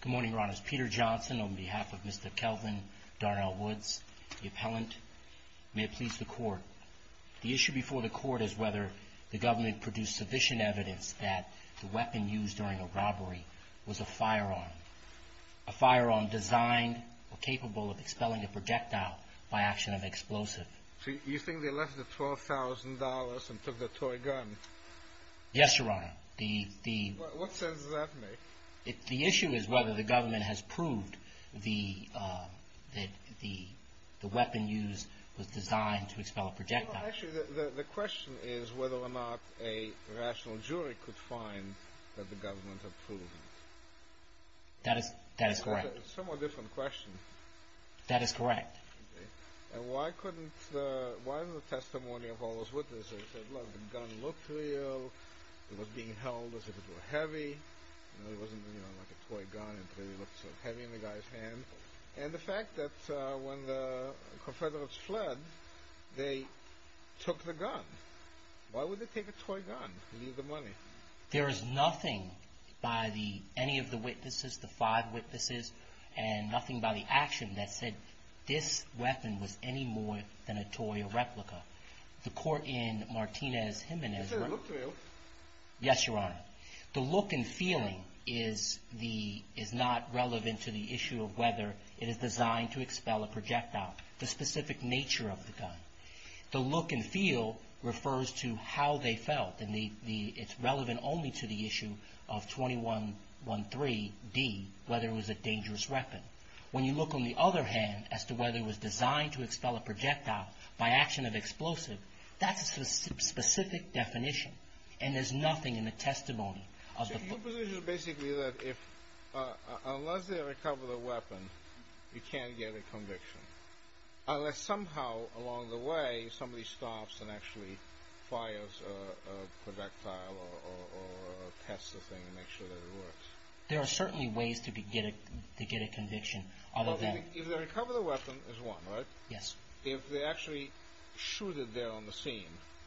Good morning, your honors. Peter Johnson on behalf of Mr. Kelvin Darnell Woods, the appellant. May it please the court. The issue before the court is whether the government produced sufficient evidence that the weapon used during a robbery was a firearm. A firearm designed or capable of expelling a projectile by action of explosive. You think they left the $12,000 and took the toy gun? Yes, your honor. What sense does that make? The issue is whether the government has proved that the weapon used was designed to expel a projectile. Actually, the question is whether or not a rational jury could find that the government had proved it. That is correct. It's a somewhat different question. That is correct. Why is the testimony of all those witnesses that the gun looked real, it was being held as if it were heavy, it wasn't like a toy gun, it really looked so heavy in the guy's hand? And the fact that when the Confederates fled, they took the gun. Why would they take a toy gun and leave the money? There is nothing by any of the witnesses, the five witnesses, and nothing by the action that said this weapon was any more than a toy or replica. The court in Martinez-Jimenez... Yes, sir, it looked real. Yes, your honor. The look and feeling is not relevant to the issue of whether it is designed to expel a projectile. The specific nature of the gun. The look and feel refers to how they felt, and it's relevant only to the issue of 2113D, whether it was a dangerous weapon. When you look on the other hand as to whether it was designed to expel a projectile by action of explosive, that's a specific definition, and there's nothing in the testimony of the... My position is basically that unless they recover the weapon, you can't get a conviction. Unless somehow along the way, somebody stops and actually fires a projectile or tests the thing to make sure that it works. There are certainly ways to get a conviction, other than... If they recover the weapon, there's one, right? Yes. If they actually shoot it there on the scene,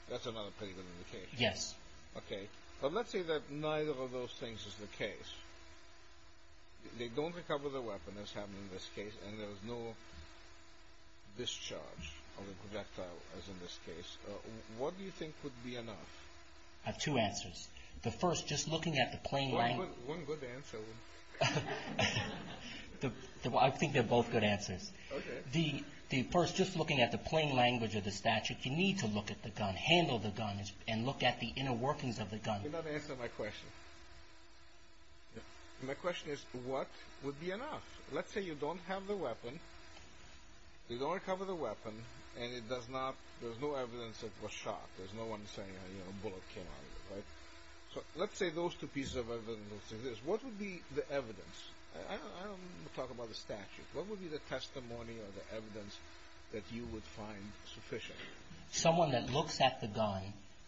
that's another pretty good indication. Yes. Okay. But let's say that neither of those things is the case. They don't recover the weapon, as happened in this case, and there's no discharge of the projectile, as in this case. What do you think would be enough? I have two answers. The first, just looking at the plain language... One good answer. I think they're both good answers. Okay. The first, just looking at the plain language of the statute, you need to look at the gun, handle the gun, and look at the inner workings of the gun. You're not answering my question. My question is, what would be enough? Let's say you don't have the weapon, you don't recover the weapon, and there's no evidence that it was shot. There's no one saying a bullet came out of it, right? Let's say those two pieces of evidence exist. What would be the evidence? I don't want to talk about the statute. What would be the testimony or the evidence that you would find sufficient? Someone that looks at the gun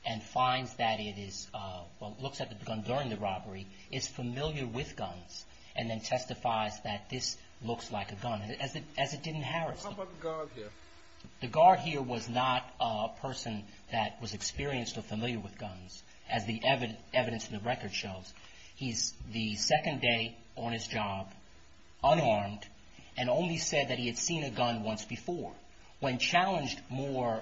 and finds that it is – well, looks at the gun during the robbery, is familiar with guns, and then testifies that this looks like a gun, as it didn't harass them. How about the guard here? The guard here was not a person that was experienced or familiar with guns, as the evidence in the record shows. He's the second day on his job, unarmed, and only said that he had seen a gun once before. When challenged more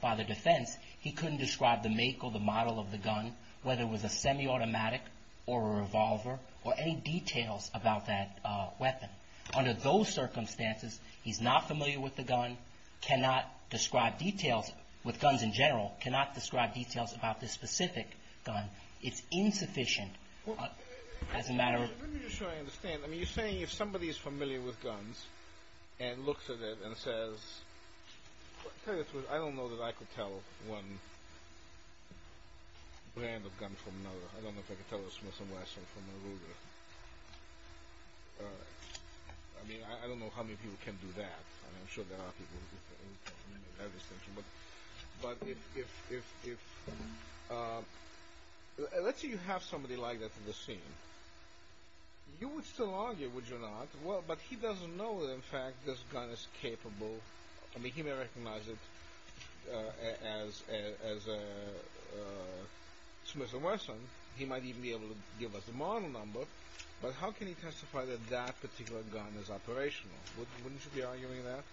by the defense, he couldn't describe the make or the model of the gun, whether it was a semi-automatic or a revolver, or any details about that weapon. Under those circumstances, he's not familiar with the gun, cannot describe details with guns in general, cannot describe details about this specific gun. It's insufficient as a matter of – Let me just try to understand. I mean, you're saying if somebody is familiar with guns and looks at it and says – I don't know that I could tell one brand of gun from another. I don't know if I could tell a Smith & Wesson from a Ruger. I mean, I don't know how many people can do that. I'm sure there are people who can do that. But if – let's say you have somebody like that on the scene. You would still argue, would you not? Well, but he doesn't know that, in fact, this gun is capable – I mean, he may recognize it as a Smith & Wesson. He might even be able to give us the model number. But how can he testify that that particular gun is operational? Wouldn't you be arguing that?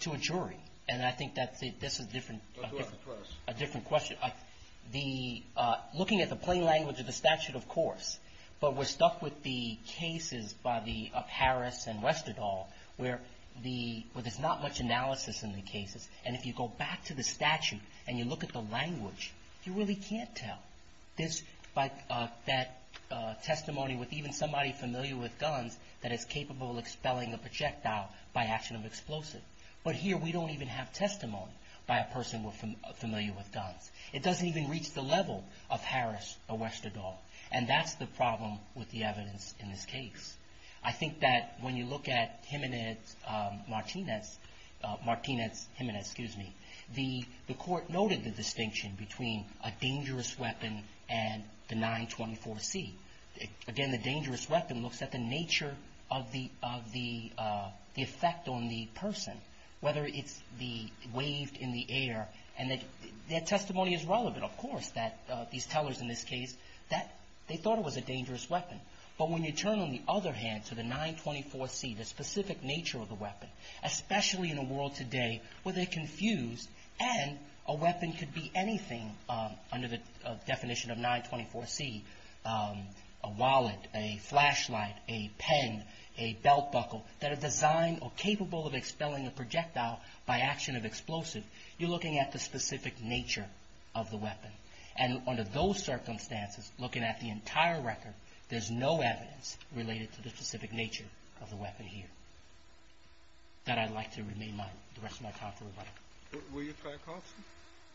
To a jury. And I think that this is a different question. Looking at the plain language of the statute, of course, but we're stuck with the cases by Harris and Westerdahl where there's not much analysis in the cases. And if you go back to the statute and you look at the language, you really can't tell. That testimony with even somebody familiar with guns that is capable of expelling a projectile by action of explosive. But here we don't even have testimony by a person familiar with guns. It doesn't even reach the level of Harris or Westerdahl. And that's the problem with the evidence in this case. I think that when you look at Jimenez-Martinez – Martinez-Jimenez, excuse me – the court noted the distinction between a dangerous weapon and the 924-C. Again, the dangerous weapon looks at the nature of the effect on the person, whether it's the wave in the air. And that testimony is relevant, of course, that these tellers in this case, that they thought it was a dangerous weapon. But when you turn, on the other hand, to the 924-C, the specific nature of the weapon, especially in a world today where they're confused, and a weapon could be anything under the definition of 924-C – a wallet, a flashlight, a pen, a belt buckle – that are designed or capable of expelling a projectile by action of explosive, you're looking at the specific nature of the weapon. And under those circumstances, looking at the entire record, there's no evidence related to the specific nature of the weapon here. With that, I'd like to remain the rest of my talk for the day. Were you trial counsel?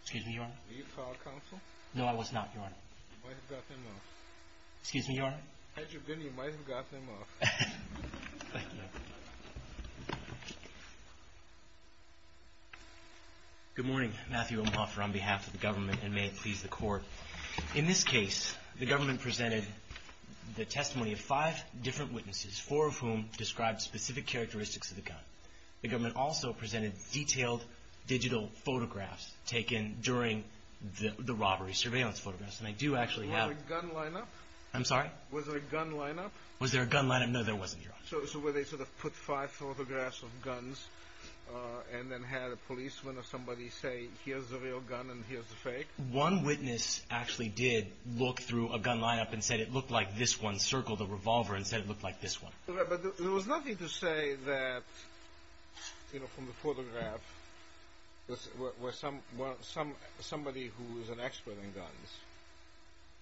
Excuse me, Your Honor? Were you trial counsel? No, I was not, Your Honor. You might have got them off. Excuse me, Your Honor? Had you been, you might have got them off. Thank you, Your Honor. Good morning. Matthew Omhoffer on behalf of the government, and may it please the Court. In this case, the government presented the testimony of five different witnesses, four of whom described specific characteristics of the gun. The government also presented detailed digital photographs taken during the robbery surveillance photographs. And I do actually have – Was there a gun lineup? I'm sorry? Was there a gun lineup? Was there a gun lineup? No, there wasn't, Your Honor. So were they sort of put five photographs of guns and then had a policeman or somebody say, here's the real gun and here's the fake? One witness actually did look through a gun lineup and said it looked like this one, circled the revolver and said it looked like this one. But there was nothing to say that, you know, from the photograph, where somebody who is an expert in guns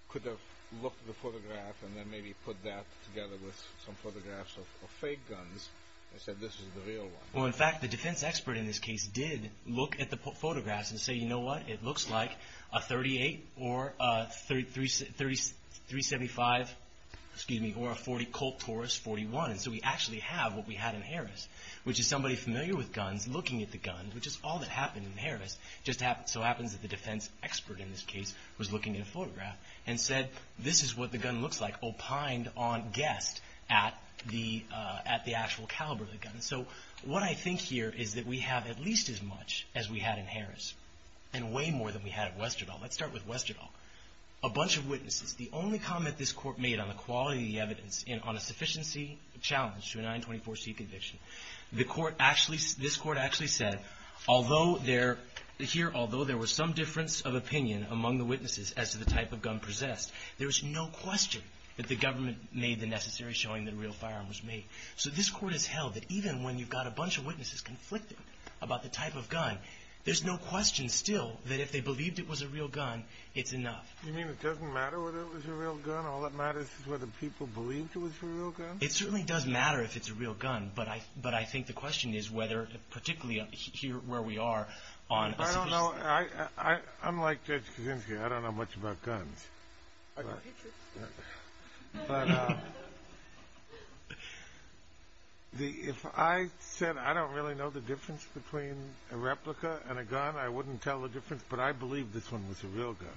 could have looked at the photograph and then maybe put that together with some photographs of fake guns and said this is the real one. Well, in fact, the defense expert in this case did look at the photographs and say, you know what, it looks like a .38 or a .375, excuse me, or a Colt Taurus 41. And so we actually have what we had in Harris, which is somebody familiar with guns looking at the gun, which is all that happened in Harris. It just so happens that the defense expert in this case was looking at a photograph and said this is what the gun looks like opined on guessed at the actual caliber of the gun. And so what I think here is that we have at least as much as we had in Harris and way more than we had at Westerdahl. Let's start with Westerdahl. A bunch of witnesses. The only comment this court made on the quality of the evidence and on a sufficiency challenge to a 924c conviction, this court actually said although there was some difference of opinion among the witnesses as to the type of gun possessed, there was no question that the government made the necessary showing that a real firearm was made. So this court has held that even when you've got a bunch of witnesses conflicting about the type of gun, there's no question still that if they believed it was a real gun, it's enough. You mean it doesn't matter whether it was a real gun? All that matters is whether people believed it was a real gun? It certainly does matter if it's a real gun, but I think the question is whether particularly here where we are on sufficiency. I don't know. Unlike Judge Kaczynski, I don't know much about guns. But if I said I don't really know the difference between a replica and a gun, I wouldn't tell the difference, but I believe this one was a real gun.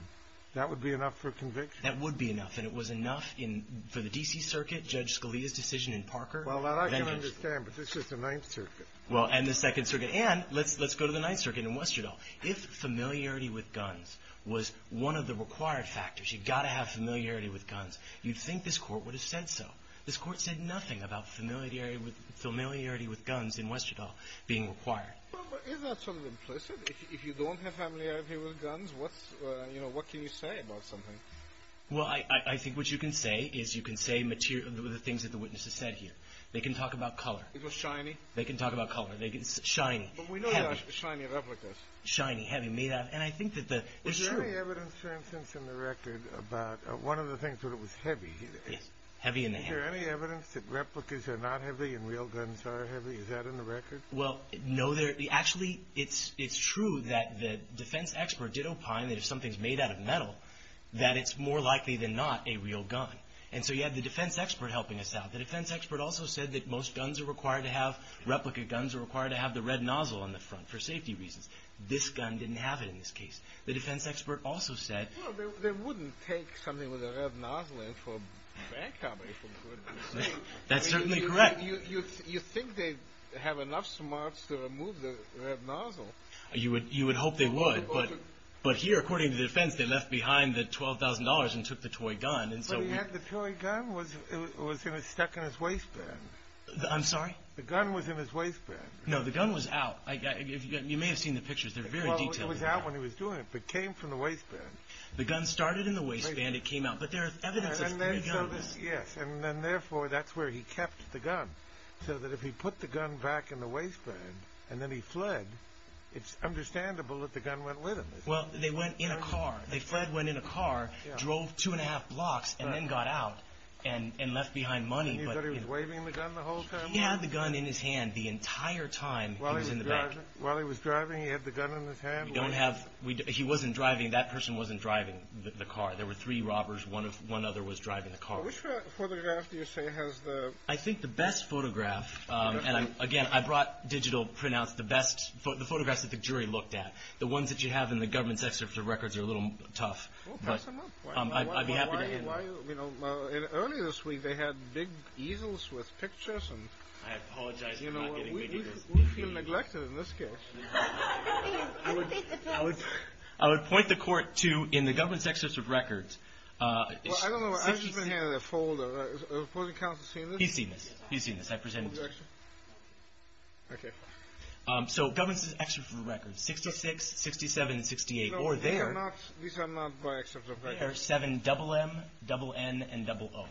That would be enough for conviction? That would be enough. And it was enough for the D.C. Circuit, Judge Scalia's decision in Parker. Well, I can understand, but this is the Ninth Circuit. Well, and the Second Circuit. And let's go to the Ninth Circuit in Westerdahl. If familiarity with guns was one of the required factors, you've got to have familiarity with guns, you'd think this Court would have said so. This Court said nothing about familiarity with guns in Westerdahl being required. Well, but isn't that sort of implicit? If you don't have familiarity with guns, what can you say about something? Well, I think what you can say is you can say the things that the witness has said here. They can talk about color. It was shiny? They can talk about color. It's shiny. But we know there are shiny replicas. Shiny, heavy, made out. And I think that the issue of the record about one of the things that it was heavy. Yes. Heavy in the hand. Is there any evidence that replicas are not heavy and real guns are heavy? Is that in the record? Well, no. Actually, it's true that the defense expert did opine that if something's made out of metal, that it's more likely than not a real gun. And so you had the defense expert helping us out. The defense expert also said that most guns are required to have, most replica guns are required to have the red nozzle on the front for safety reasons. This gun didn't have it in this case. The defense expert also said. Well, they wouldn't take something with a red nozzle in for bank robbery, for good reason. That's certainly correct. You think they have enough smarts to remove the red nozzle? You would hope they would. But here, according to the defense, they left behind the $12,000 and took the toy gun. But he had the toy gun. It was stuck in his waistband. I'm sorry? The gun was in his waistband. No, the gun was out. You may have seen the pictures. They're very detailed. It was out when he was doing it, but it came from the waistband. The gun started in the waistband. It came out. But there is evidence that the gun was. Yes, and therefore, that's where he kept the gun. So that if he put the gun back in the waistband and then he fled, it's understandable that the gun went with him. Well, they went in a car. They fled, went in a car, drove 2 1⁄2 blocks, and then got out and left behind money. And you thought he was waving the gun the whole time? He had the gun in his hand the entire time he was in the bank. While he was driving, he had the gun in his hand? We don't have. He wasn't driving. That person wasn't driving the car. There were three robbers. One other was driving the car. Which photograph do you say has the... I think the best photograph. And, again, I brought digital printouts, the photographs that the jury looked at. The ones that you have in the government's excerpt of records are a little tough. Well, pass them up. I'd be happy to... I apologize for not getting the details. We feel neglected in this case. I would point the court to, in the government's excerpt of records... Well, I don't know. I've just been handed a folder. Has the opposing counsel seen this? He's seen this. He's seen this. I presented this to him. Okay. So government's excerpt of records, 66, 67, and 68, or there... No, these are not by excerpt of records. There are seven, double M, double N, and double O.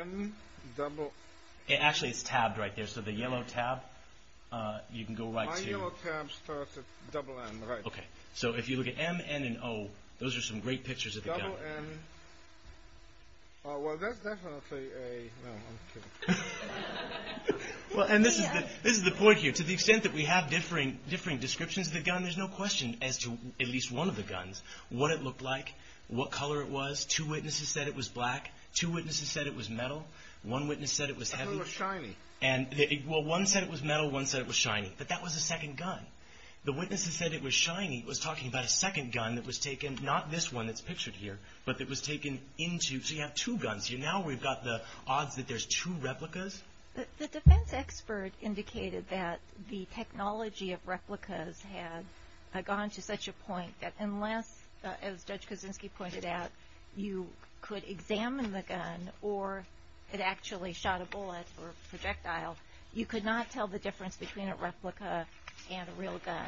M, double... Actually, it's tabbed right there. So the yellow tab, you can go right to... My yellow tab starts at double M, right. Okay. So if you look at M, N, and O, those are some great pictures of the gun. Double N... Well, that's definitely a... No, I'm kidding. And this is the point here. To the extent that we have differing descriptions of the gun, there's no question as to at least one of the guns, what it looked like, what color it was. Two witnesses said it was black. Two witnesses said it was metal. One witness said it was heavy. I thought it was shiny. Well, one said it was metal. One said it was shiny. But that was a second gun. The witnesses said it was shiny. It was talking about a second gun that was taken, not this one that's pictured here, but that was taken into... So you have two guns here. Now we've got the odds that there's two replicas. The defense expert indicated that the technology of replicas had gone to such a point that unless, as Judge Kuczynski pointed out, you could examine the gun or it actually shot a bullet or projectile, you could not tell the difference between a replica and a real gun.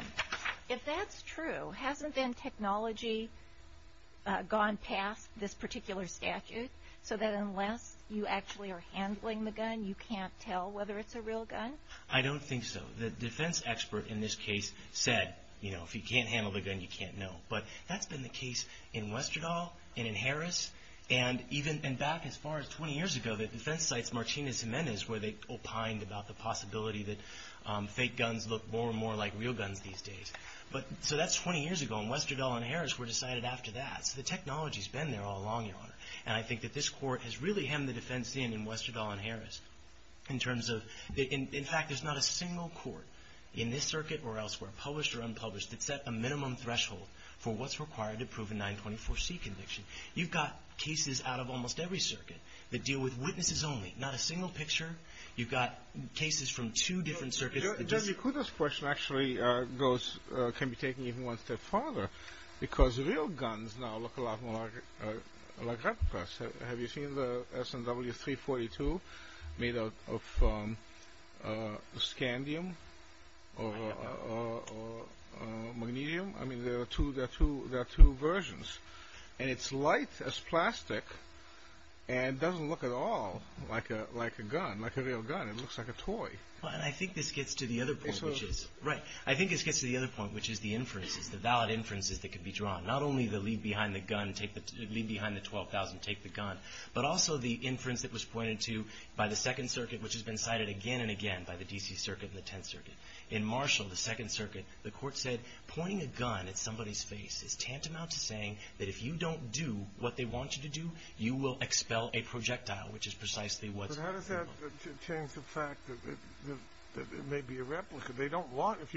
If that's true, hasn't then technology gone past this particular statute so that unless you actually are handling the gun, you can't tell whether it's a real gun? I don't think so. The defense expert in this case said, you know, if you can't handle the gun, you can't know. But that's been the case in Westerdahl and in Harris, and even back as far as 20 years ago at defense sites, Martinez and Menez, where they opined about the possibility that fake guns look more and more like real guns these days. So that's 20 years ago, and Westerdahl and Harris were decided after that. So the technology's been there all along, Your Honor. And I think that this Court has really hemmed the defense in in Westerdahl and Harris in terms of... In fact, there's not a single court in this circuit or elsewhere, published or unpublished, that set a minimum threshold for what's required to prove a 924C conviction. You've got cases out of almost every circuit that deal with witnesses only, not a single picture. You've got cases from two different circuits... Judge Mikuta's question actually goes, can be taken even one step farther, because real guns now look a lot more like replicas. Have you seen the S&W 342 made of scandium or magnesium? I mean, there are two versions, and it's light as plastic, and it doesn't look at all like a gun, like a real gun. It looks like a toy. Well, and I think this gets to the other point, which is the inferences, the valid inferences that could be drawn. Not only the leave behind the gun, leave behind the 12,000, take the gun, but also the inference that was pointed to by the Second Circuit, which has been cited again and again by the D.C. Circuit and the Tenth Circuit. In Marshall, the Second Circuit, the court said, pointing a gun at somebody's face is tantamount to saying that if you don't do what they want you to do, you will expel a projectile, which is precisely what's... But how does that change the fact that it may be a replica? They don't want... It's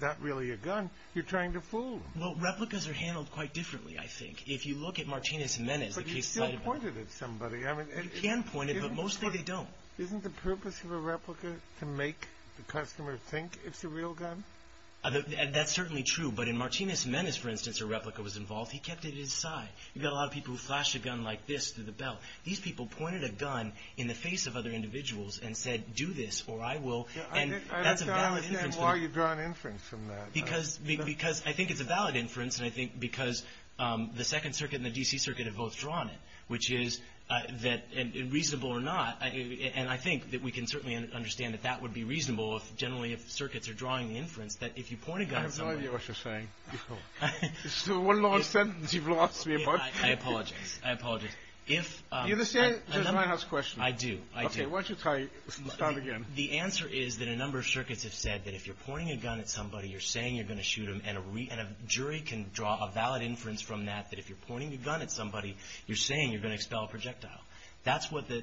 not really a gun. You're trying to fool them. Well, replicas are handled quite differently, I think. If you look at Martinez-Menez... But you can point it at somebody. You can point it, but mostly they don't. Isn't the purpose of a replica to make the customer think it's a real gun? That's certainly true, but in Martinez-Menez, for instance, a replica was involved. He kept it at his side. You've got a lot of people who flash a gun like this through the belt. These people pointed a gun in the face of other individuals and said, do this or I will, and that's a valid inference... Because I think it's a valid inference, and I think because the Second Circuit and the D.C. Circuit have both drawn it, which is that, reasonable or not, and I think that we can certainly understand that that would be reasonable generally if circuits are drawing the inference, that if you point a gun at somebody... I have no idea what you're saying. It's the one long sentence you've lost me about... I apologize. I apologize. Do you understand Judge Reinhardt's question? I do. I do. Okay, why don't you try it again. The answer is that a number of circuits have said that if you're pointing a gun at somebody, you're saying you're going to shoot them, and a jury can draw a valid inference from that that if you're pointing a gun at somebody, you're saying you're going to expel a projectile. That's what the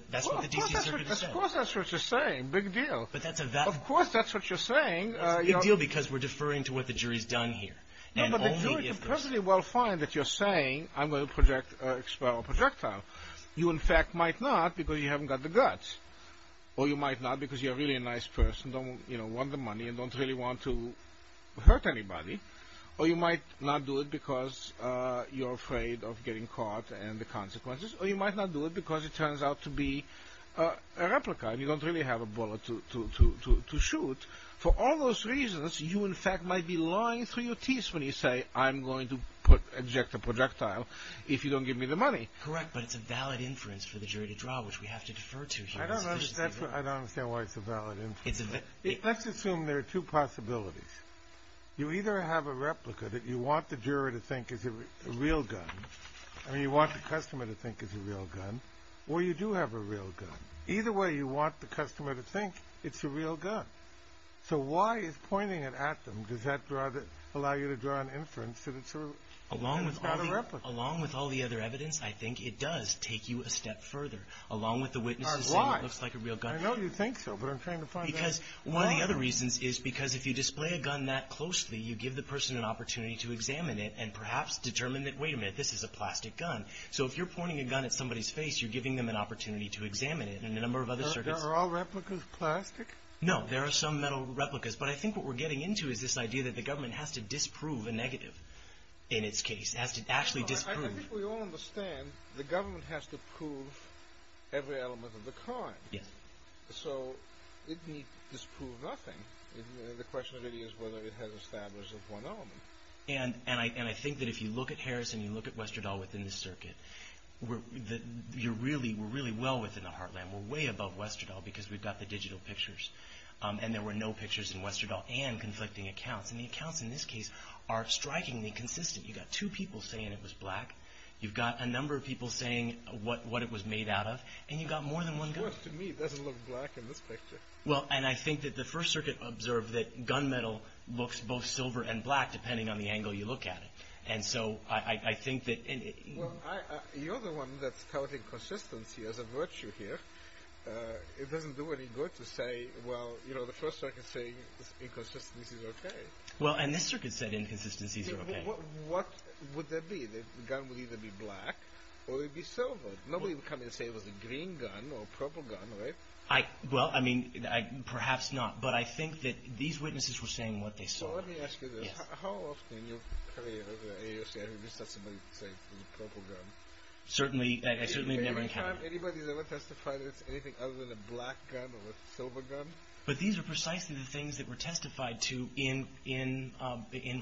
D.C. Circuit has said. Of course that's what you're saying. Big deal. But that's a valid... Of course that's what you're saying. It's a big deal because we're deferring to what the jury's done here. No, but the jury can perfectly well find that you're saying, I'm going to expel a projectile. You, in fact, might not because you haven't got the guts, or you might not because you're really a nice person, and don't want the money, and don't really want to hurt anybody, or you might not do it because you're afraid of getting caught and the consequences, or you might not do it because it turns out to be a replica, and you don't really have a bullet to shoot. For all those reasons, you, in fact, might be lying through your teeth when you say, I'm going to eject a projectile if you don't give me the money. Correct, but it's a valid inference for the jury to draw, which we have to defer to here. I don't understand why it's a valid inference. Let's assume there are two possibilities. You either have a replica that you want the juror to think is a real gun, and you want the customer to think it's a real gun, or you do have a real gun. Either way, you want the customer to think it's a real gun. So why is pointing it at them? Does that allow you to draw an inference that it's not a replica? Along with all the other evidence, I think it does take you a step further. Along with the witnesses saying it looks like a real gun. I know you think so, but I'm trying to find out why. Because one of the other reasons is because if you display a gun that closely, you give the person an opportunity to examine it and perhaps determine that, wait a minute, this is a plastic gun. So if you're pointing a gun at somebody's face, you're giving them an opportunity to examine it. Are all replicas plastic? No. There are some that are replicas. But I think what we're getting into is this idea that the government has to disprove a negative in its case, has to actually disprove. I think we all understand the government has to prove every element of the crime. Yes. So it needs to disprove nothing. The question really is whether it has established one element. And I think that if you look at Harris and you look at Westerdahl within the circuit, we're really well within the heartland. We're way above Westerdahl because we've got the digital pictures. And there were no pictures in Westerdahl and conflicting accounts. And the accounts in this case are strikingly consistent. You've got two people saying it was black. You've got a number of people saying what it was made out of. And you've got more than one gun. To me, it doesn't look black in this picture. Well, and I think that the First Circuit observed that gun metal looks both silver and black depending on the angle you look at it. And so I think that... Well, you're the one that's counting consistency as a virtue here. It doesn't do any good to say, well, you know, the First Circuit is saying inconsistencies are okay. Well, and this circuit said inconsistencies are okay. Well, what would that be? The gun would either be black or it would be silver. Nobody would come in and say it was a green gun or a purple gun, right? Well, I mean, perhaps not. But I think that these witnesses were saying what they saw. Well, let me ask you this. How often in your career as an AOC have you heard somebody say it was a purple gun? Certainly never in Canada. Has anybody ever testified that it's anything other than a black gun or a silver gun? But these are precisely the things that were testified to in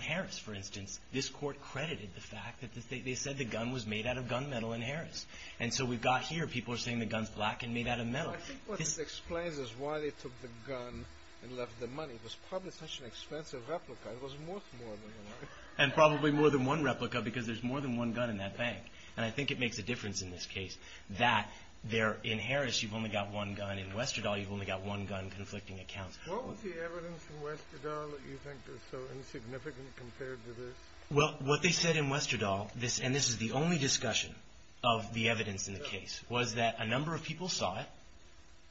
Harris, for instance. This court credited the fact that they said the gun was made out of gun metal in Harris. And so we've got here people are saying the gun's black and made out of metal. I think what this explains is why they took the gun and left the money. It was probably such an expensive replica. It was worth more than the money. And probably more than one replica because there's more than one gun in that bank. And I think it makes a difference in this case that in Harris you've only got one gun. In Westerdahl you've only got one gun, conflicting accounts. What was the evidence in Westerdahl that you think is so insignificant compared to this? Well, what they said in Westerdahl, and this is the only discussion of the evidence in the case, was that a number of people saw it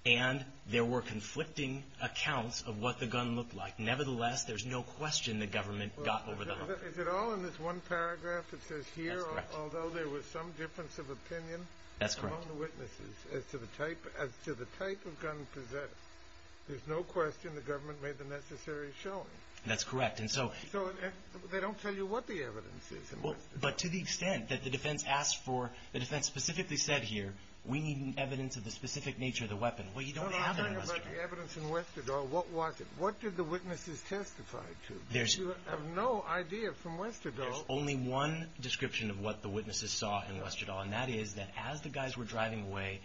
and there were conflicting accounts of what the gun looked like. Nevertheless, there's no question the government got over the hump. Is it all in this one paragraph that says here, although there was some difference of opinion among the witnesses as to the type of gun possessed, there's no question the government made the necessary showing. That's correct. So they don't tell you what the evidence is in Westerdahl. But to the extent that the defense specifically said here, we need evidence of the specific nature of the weapon. Well, you don't have it in Westerdahl. I'm talking about the evidence in Westerdahl. What was it? What did the witnesses testify to? You have no idea from Westerdahl. There's only one description of what the witnesses saw in Westerdahl, and that is that as the guys were driving away,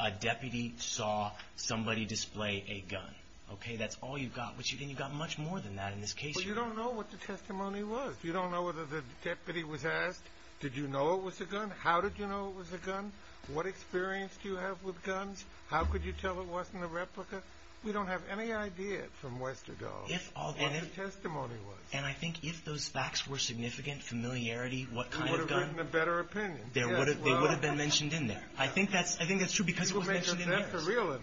a deputy saw somebody display a gun. Okay, that's all you've got. And you've got much more than that in this case. But you don't know what the testimony was. You don't know whether the deputy was asked, did you know it was a gun? How did you know it was a gun? What experience do you have with guns? How could you tell it wasn't a replica? We don't have any idea from Westerdahl what the testimony was. And I think if those facts were significant, familiarity, what kind of gun? There wouldn't have been a better opinion. They would have been mentioned in there. I think that's true because it was mentioned in there. You make a death of real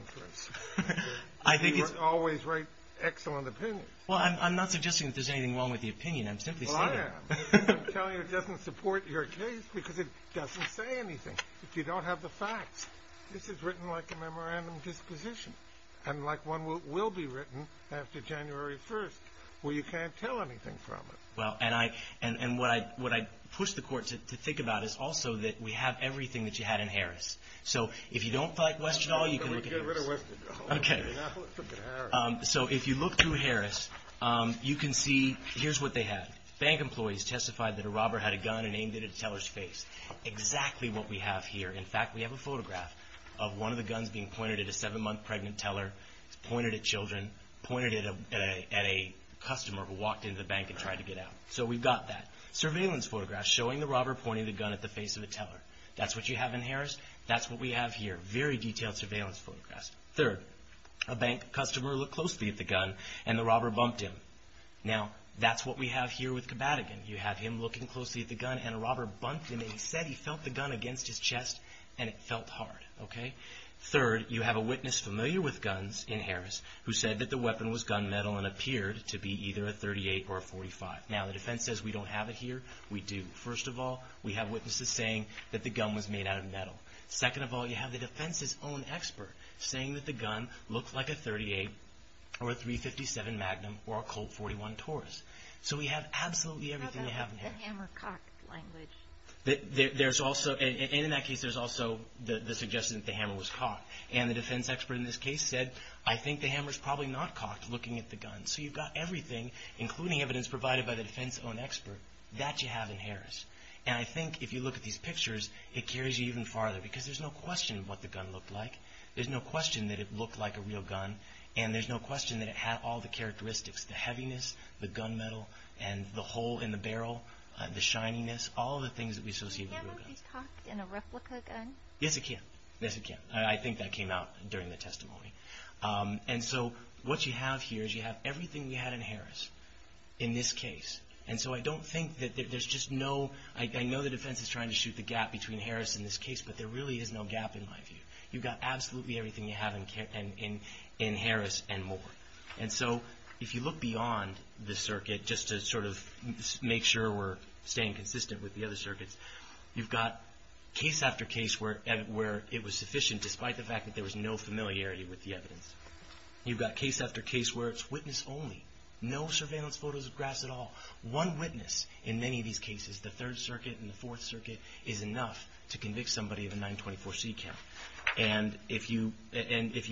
interest. You always write excellent opinions. Well, I'm not suggesting that there's anything wrong with the opinion. I'm simply saying that. Well, I am. I'm telling you it doesn't support your case because it doesn't say anything. If you don't have the facts, this is written like a memorandum disposition and like one will be written after January 1st, where you can't tell anything from it. Well, and what I push the court to think about is also that we have everything that you had in Harris. So if you don't like Westerdahl, you can look at Harris. So if you look through Harris, you can see here's what they have. Bank employees testified that a robber had a gun and aimed it at a teller's face. Exactly what we have here. In fact, we have a photograph of one of the guns being pointed at a seven-month pregnant teller. It's pointed at children, pointed at a customer who walked into the bank and tried to get out. So we've got that. Surveillance photographs showing the robber pointing the gun at the face of a teller. That's what you have in Harris. That's what we have here. Very detailed surveillance photographs. Third, a bank customer looked closely at the gun, and the robber bumped him. Now, that's what we have here with Kabatagan. You have him looking closely at the gun, and a robber bumped him, and he said he felt the gun against his chest, and it felt hard. Third, you have a witness familiar with guns in Harris who said that the weapon was gunmetal and appeared to be either a .38 or a .45. Now, the defense says we don't have it here. We do. First of all, we have witnesses saying that the gun was made out of metal. Second of all, you have the defense's own expert saying that the gun looked like a .38 or a .357 Magnum or a Colt .41 Taurus. So we have absolutely everything we have in Harris. How about the hammer-cock language? And in that case, there's also the suggestion that the hammer was cocked. And the defense expert in this case said, I think the hammer's probably not cocked looking at the gun. So you've got everything, including evidence provided by the defense's own expert, that you have in Harris. And I think if you look at these pictures, it carries you even farther because there's no question of what the gun looked like. There's no question that it looked like a real gun, and there's no question that it had all the characteristics, the heaviness, the gunmetal, and the hole in the barrel, the shininess, all the things that we associate with a real gun. The hammer was cocked in a replica gun? Yes, it can. Yes, it can. I think that came out during the testimony. And so what you have here is you have everything we had in Harris in this case. And so I don't think that there's just no – I know the defense is trying to shoot the gap between Harris and this case, but there really is no gap in my view. You've got absolutely everything you have in Harris and more. And so if you look beyond the circuit, just to sort of make sure we're staying consistent with the other circuits, you've got case after case where it was sufficient, despite the fact that there was no familiarity with the evidence. You've got case after case where it's witness only, no surveillance photos of grass at all. One witness in many of these cases, the Third Circuit and the Fourth Circuit, is enough to convict somebody of a 924c count. And if you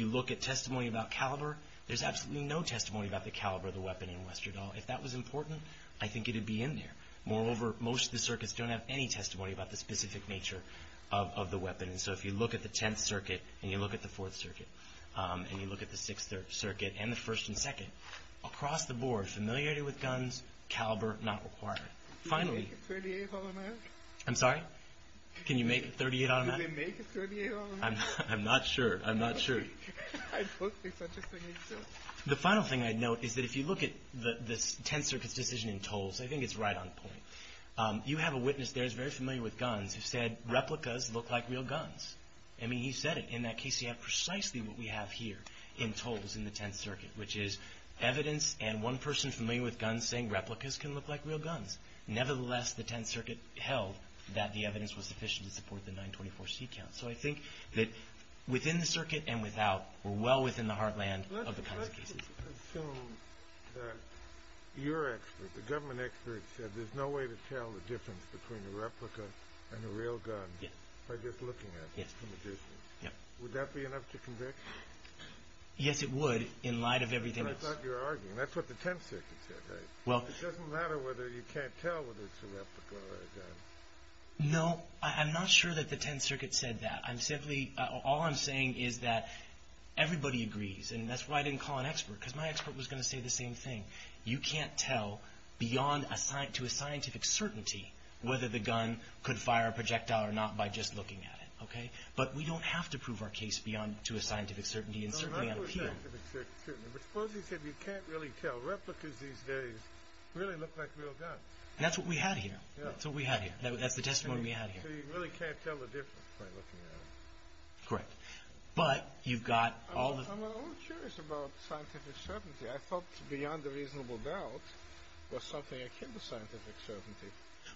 look at testimony about caliber, there's absolutely no testimony about the caliber of the weapon in Westerdahl. If that was important, I think it would be in there. Moreover, most of the circuits don't have any testimony about the specific nature of the weapon. And so if you look at the Tenth Circuit and you look at the Fourth Circuit and you look at the Sixth Circuit and the First and Second, across the board, familiarity with guns, caliber not required. Finally – Can you make a .38 automatic? I'm sorry? Can you make a .38 automatic? Can you make a .38 automatic? I'm not sure. I'm not sure. I don't think such a thing exists. The final thing I'd note is that if you look at the Tenth Circuit's decision in Tolles, I think it's right on point. You have a witness there who's very familiar with guns who said replicas look like real guns. I mean, he said it in that case. He had precisely what we have here in Tolles in the Tenth Circuit, which is evidence and one person familiar with guns saying replicas can look like real guns. Nevertheless, the Tenth Circuit held that the evidence was sufficient to support the 924c count. So I think that within the circuit and without, we're well within the heartland of the kinds of cases. Let's assume that your expert, the government expert, said there's no way to tell the difference between a replica and a real gun by just looking at it from a distance. Would that be enough to convict you? Yes, it would in light of everything else. That's not what you're arguing. That's what the Tenth Circuit said, right? It doesn't matter whether you can't tell whether it's a replica or a gun. No, I'm not sure that the Tenth Circuit said that. All I'm saying is that everybody agrees, and that's why I didn't call an expert, because my expert was going to say the same thing. You can't tell beyond to a scientific certainty whether the gun could fire a projectile or not by just looking at it. But we don't have to prove our case beyond to a scientific certainty and certainly on appeal. But suppose he said you can't really tell. Replicas these days really look like real guns. And that's what we had here. That's what we had here. That's the testimony we had here. So you really can't tell the difference by looking at it. Correct. But you've got all the— I'm a little curious about scientific certainty. I thought beyond a reasonable doubt was something akin to scientific certainty.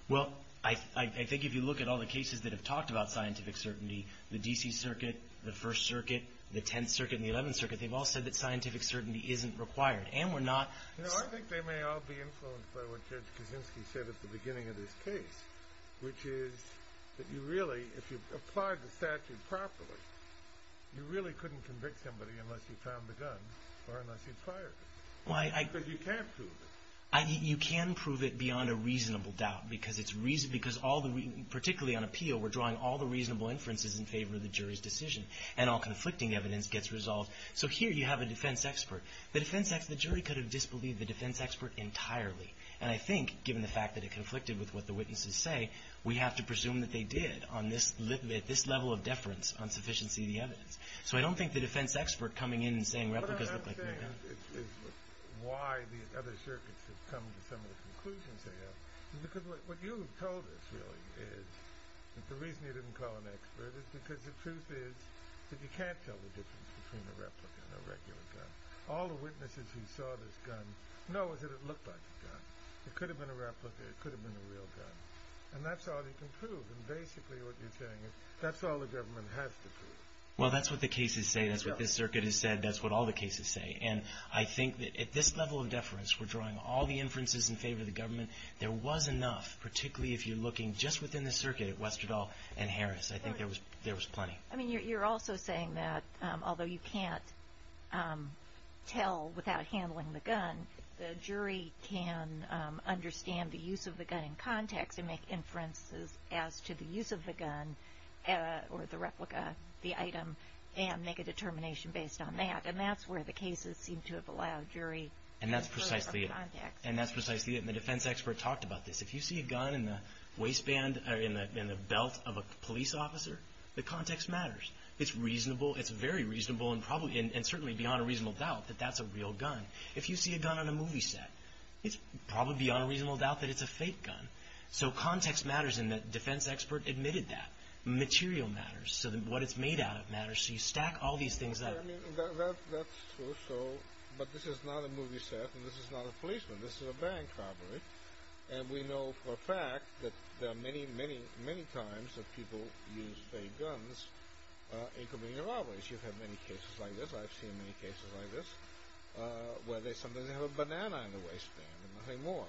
Well, I think if you look at all the cases that have talked about scientific certainty, the D.C. Circuit, the First Circuit, the Tenth Circuit, and the Eleventh Circuit, they've all said that scientific certainty isn't required, and we're not— No, I think they may all be influenced by what Judge Kaczynski said at the beginning of this case, which is that you really, if you applied the statute properly, you really couldn't convict somebody unless you found the gun or unless you'd fired it. Because you can't prove it. You can prove it beyond a reasonable doubt because it's— because all the—particularly on appeal, we're drawing all the reasonable inferences in favor of the jury's decision, and all conflicting evidence gets resolved. So here you have a defense expert. The defense expert—the jury could have disbelieved the defense expert entirely. And I think, given the fact that it conflicted with what the witnesses say, we have to presume that they did on this level of deference on sufficiency of the evidence. So I don't think the defense expert coming in and saying replicas look like new guns— What I'm saying is why these other circuits have come to some of the conclusions they have. Because what you have told us, really, is that the reason you didn't call an expert is because the truth is that you can't tell the difference between a replica and a regular gun. All the witnesses who saw this gun know that it looked like a gun. It could have been a replica. It could have been a real gun. And that's all you can prove. And basically what you're saying is that's all the government has to prove. Well, that's what the cases say. That's what this circuit has said. That's what all the cases say. And I think that at this level of deference, we're drawing all the inferences in favor of the government. There was enough, particularly if you're looking just within the circuit at Westerdahl and Harris. I think there was plenty. I mean, you're also saying that although you can't tell without handling the gun, the jury can understand the use of the gun in context and make inferences as to the use of the gun or the replica, the item, and make a determination based on that. And that's where the cases seem to have allowed jury to infer from context. And that's precisely it. And the defense expert talked about this. If you see a gun in the waistband or in the belt of a police officer, the context matters. It's reasonable. It's very reasonable and certainly beyond a reasonable doubt that that's a real gun. If you see a gun on a movie set, it's probably beyond a reasonable doubt that it's a fake gun. So context matters, and the defense expert admitted that. Material matters. So what it's made out of matters. So you stack all these things up. That's true. But this is not a movie set and this is not a policeman. This is a bank robbery. And we know for a fact that there are many, many, many times that people use fake guns in community robberies. You have many cases like this. I've seen many cases like this where sometimes they have a banana in the waistband and nothing more.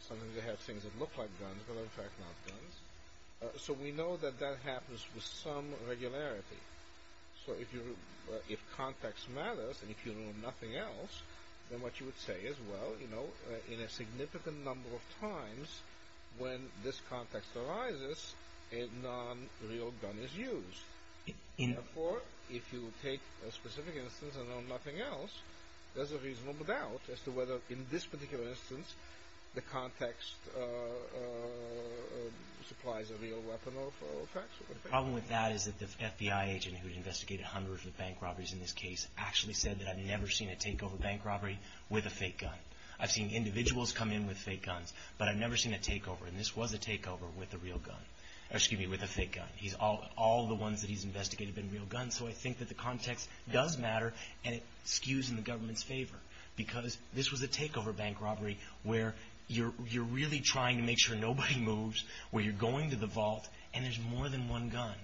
Sometimes they have things that look like guns but are in fact not guns. So we know that that happens with some regularity. So if context matters and if you know nothing else, then what you would say is, well, you know, in a significant number of times when this context arises, a non-real gun is used. Therefore, if you take a specific instance and know nothing else, there's a reasonable doubt as to whether in this particular instance the context supplies a real weapon of attack. The problem with that is that the FBI agent who had investigated hundreds of bank robberies in this case actually said that I've never seen a takeover bank robbery with a fake gun. I've seen individuals come in with fake guns, but I've never seen a takeover. And this was a takeover with a real gun. Excuse me, with a fake gun. All the ones that he's investigated have been real guns. So I think that the context does matter and it skews in the government's favor because this was a takeover bank robbery where you're really trying to make sure nobody moves, where you're going to the vault, and there's more than one gun.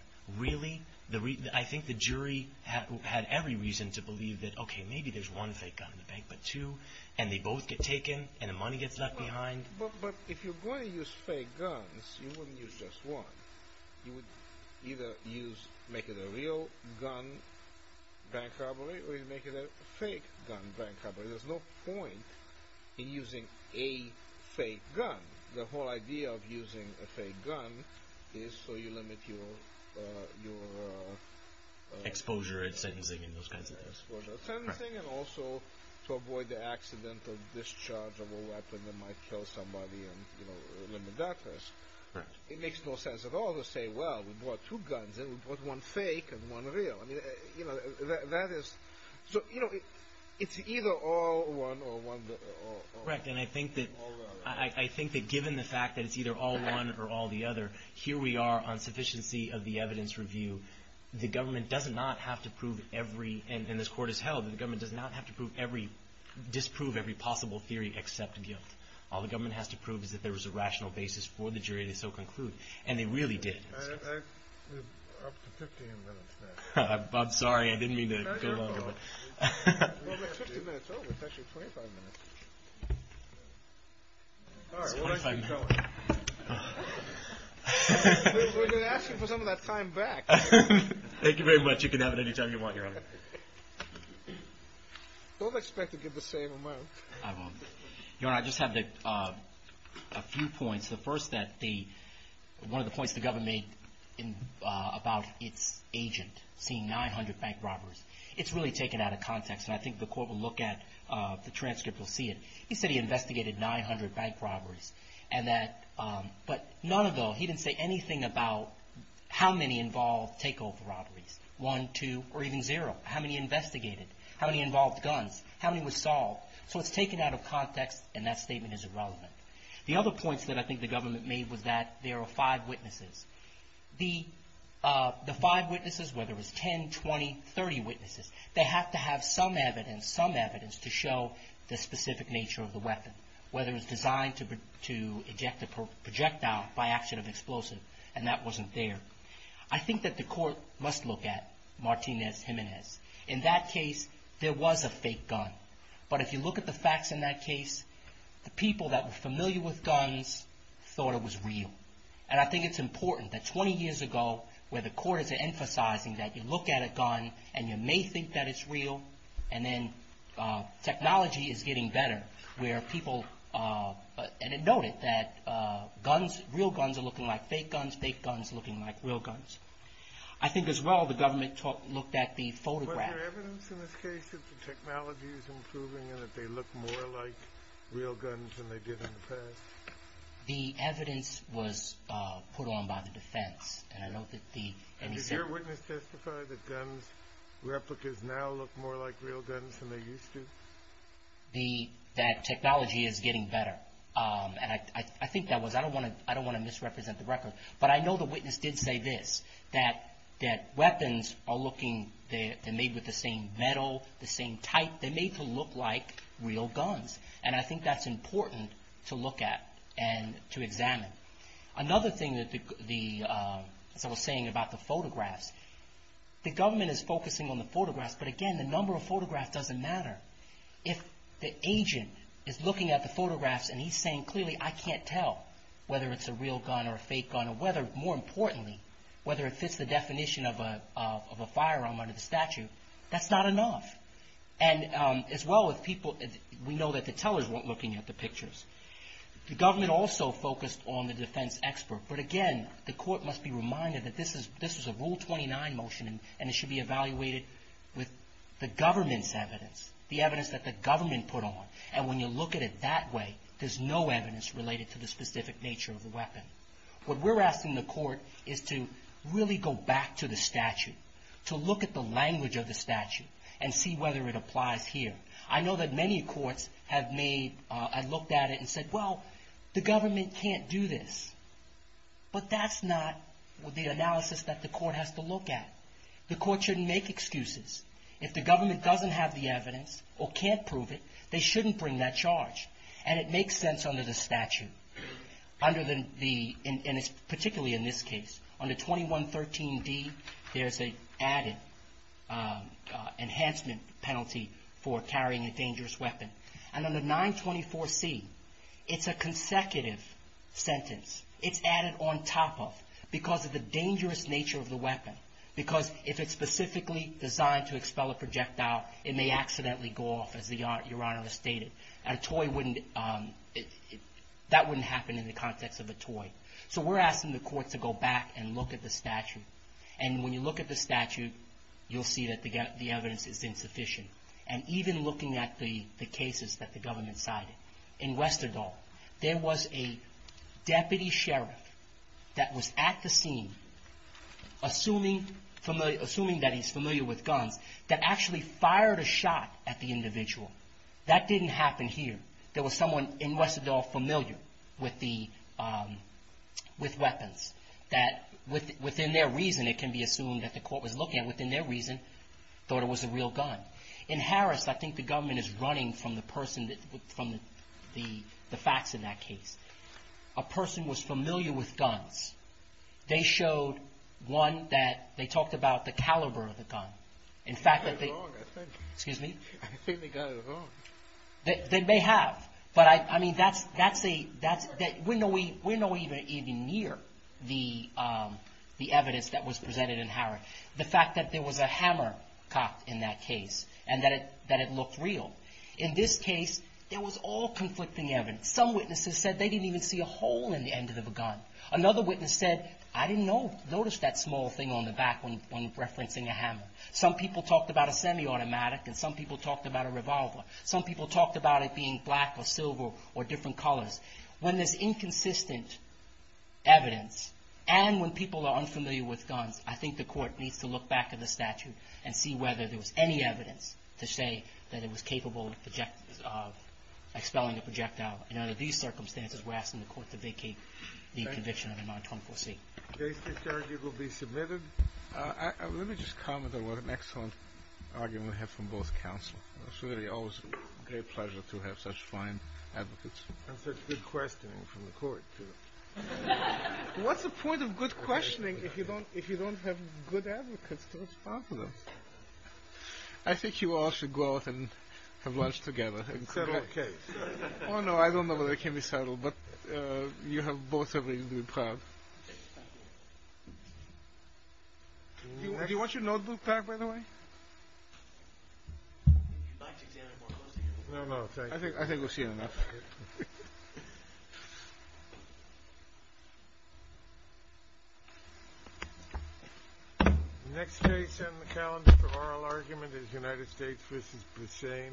I think the jury had every reason to believe that, okay, maybe there's one fake gun in the bank, but two, and they both get taken and the money gets left behind. But if you're going to use fake guns, you wouldn't use just one. You would either make it a real gun bank robbery or you'd make it a fake gun bank robbery. There's no point in using a fake gun. The whole idea of using a fake gun is so you limit your exposure and sentencing and those kinds of things. Exposure and sentencing and also to avoid the accidental discharge of a weapon that might kill somebody and limit that risk. It makes no sense at all to say, well, we brought two guns in. We brought one fake and one real. So it's either all one or all the other. That's correct, and I think that given the fact that it's either all one or all the other, here we are on sufficiency of the evidence review. The government does not have to prove every, and this court has held, the government does not have to disprove every possible theory except guilt. All the government has to prove is that there was a rational basis for the jury to so conclude, and they really did. We're up to 15 minutes now. I'm sorry, I didn't mean to go on. Well, we're 50 minutes over. It's actually 25 minutes. All right, we'll let you keep going. We've been asking for some of that time back. Thank you very much. You can have it any time you want, Your Honor. Don't expect to get the same amount. I won't. Your Honor, I just have a few points. The first, one of the points the government made about its agent seeing 900 bank robbers, it's really taken out of context, and I think the court will look at the transcript. You'll see it. He said he investigated 900 bank robberies, but none of them, he didn't say anything about how many involved takeover robberies. One, two, or even zero. How many investigated? How many involved guns? How many was solved? So it's taken out of context, and that statement is irrelevant. The other points that I think the government made was that there are five witnesses. The five witnesses, whether it's 10, 20, 30 witnesses, they have to have some evidence, some evidence to show the specific nature of the weapon, whether it's designed to eject a projectile by action of explosive, and that wasn't there. I think that the court must look at Martinez Jimenez. In that case, there was a fake gun, but if you look at the facts in that case, the people that were familiar with guns thought it was real, and I think it's important that 20 years ago, where the court is emphasizing that you look at a gun and you may think that it's real, and then technology is getting better, where people noted that real guns are looking like fake guns, fake guns looking like real guns. I think, as well, the government looked at the photograph. Was there evidence in this case that the technology is improving and that they look more like real guns than they did in the past? The evidence was put on by the defense, and I know that the MSF... Did your witness testify that guns, replicas now look more like real guns than they used to? That technology is getting better, and I think that was, I don't want to misrepresent the record, but I know the witness did say this, that weapons are looking, they're made with the same metal, the same type. They're made to look like real guns, and I think that's important to look at and to examine. Another thing, as I was saying about the photographs, the government is focusing on the photographs, but again, the number of photographs doesn't matter. If the agent is looking at the photographs and he's saying, clearly, I can't tell whether it's a real gun or a fake gun, or whether, more importantly, whether it fits the definition of a firearm under the statute, that's not enough. And as well, we know that the tellers weren't looking at the pictures. The government also focused on the defense expert, but again, the court must be reminded that this is a Rule 29 motion, and it should be evaluated with the government's evidence, the evidence that the government put on. And when you look at it that way, there's no evidence related to the specific nature of the weapon. What we're asking the court is to really go back to the statute, to look at the language of the statute, and see whether it applies here. I know that many courts have looked at it and said, well, the government can't do this. But that's not the analysis that the court has to look at. The court shouldn't make excuses. If the government doesn't have the evidence or can't prove it, they shouldn't bring that charge. And it makes sense under the statute, particularly in this case. Under 2113D, there's an added enhancement penalty for carrying a dangerous weapon. And under 924C, it's a consecutive sentence. It's added on top of, because of the dangerous nature of the weapon. Because if it's specifically designed to expel a projectile, it may accidentally go off, as Your Honor has stated. And a toy wouldn't, that wouldn't happen in the context of a toy. So we're asking the court to go back and look at the statute. And when you look at the statute, you'll see that the evidence is insufficient. And even looking at the cases that the government cited. In Westerdahl, there was a deputy sheriff that was at the scene, assuming that he's familiar with guns, that actually fired a shot at the individual. That didn't happen here. There was someone in Westerdahl familiar with the, with weapons. That within their reason, it can be assumed that the court was looking at, within their reason, thought it was a real gun. In Harris, I think the government is running from the person that, from the facts in that case. A person was familiar with guns. They showed one that, they talked about the caliber of the gun. In fact, they, excuse me? I think they got it wrong. They may have. But I, I mean, that's, that's a, that's, we're nowhere, we're nowhere even near the, the evidence that was presented in Harris. The fact that there was a hammer cocked in that case. And that it, that it looked real. In this case, it was all conflicting evidence. Some witnesses said they didn't even see a hole in the end of the gun. Another witness said, I didn't know, notice that small thing on the back when, when referencing a hammer. Some people talked about a semi-automatic. And some people talked about a revolver. Some people talked about it being black or silver or different colors. When there's inconsistent evidence, and when people are unfamiliar with guns, I think the court needs to look back at the statute. And see whether there was any evidence to say that it was capable of project, of expelling a projectile. And under these circumstances, we're asking the court to vacate the conviction under 924C. Case that's argued will be submitted. Let me just comment on what an excellent argument we have from both counsel. It's really always a great pleasure to have such fine advocates. And such good questioning from the court, too. What's the point of good questioning if you don't, if you don't have good advocates to respond to them? I think you all should go out and have lunch together. And settle a case. Oh, no, I don't know whether it can be settled. But you have both a reason to be proud. Do you want your notebook back, by the way? If you'd like to examine it more closely. No, no, I think we've seen enough. Next case in the calendar for oral argument is United States v. Brussais.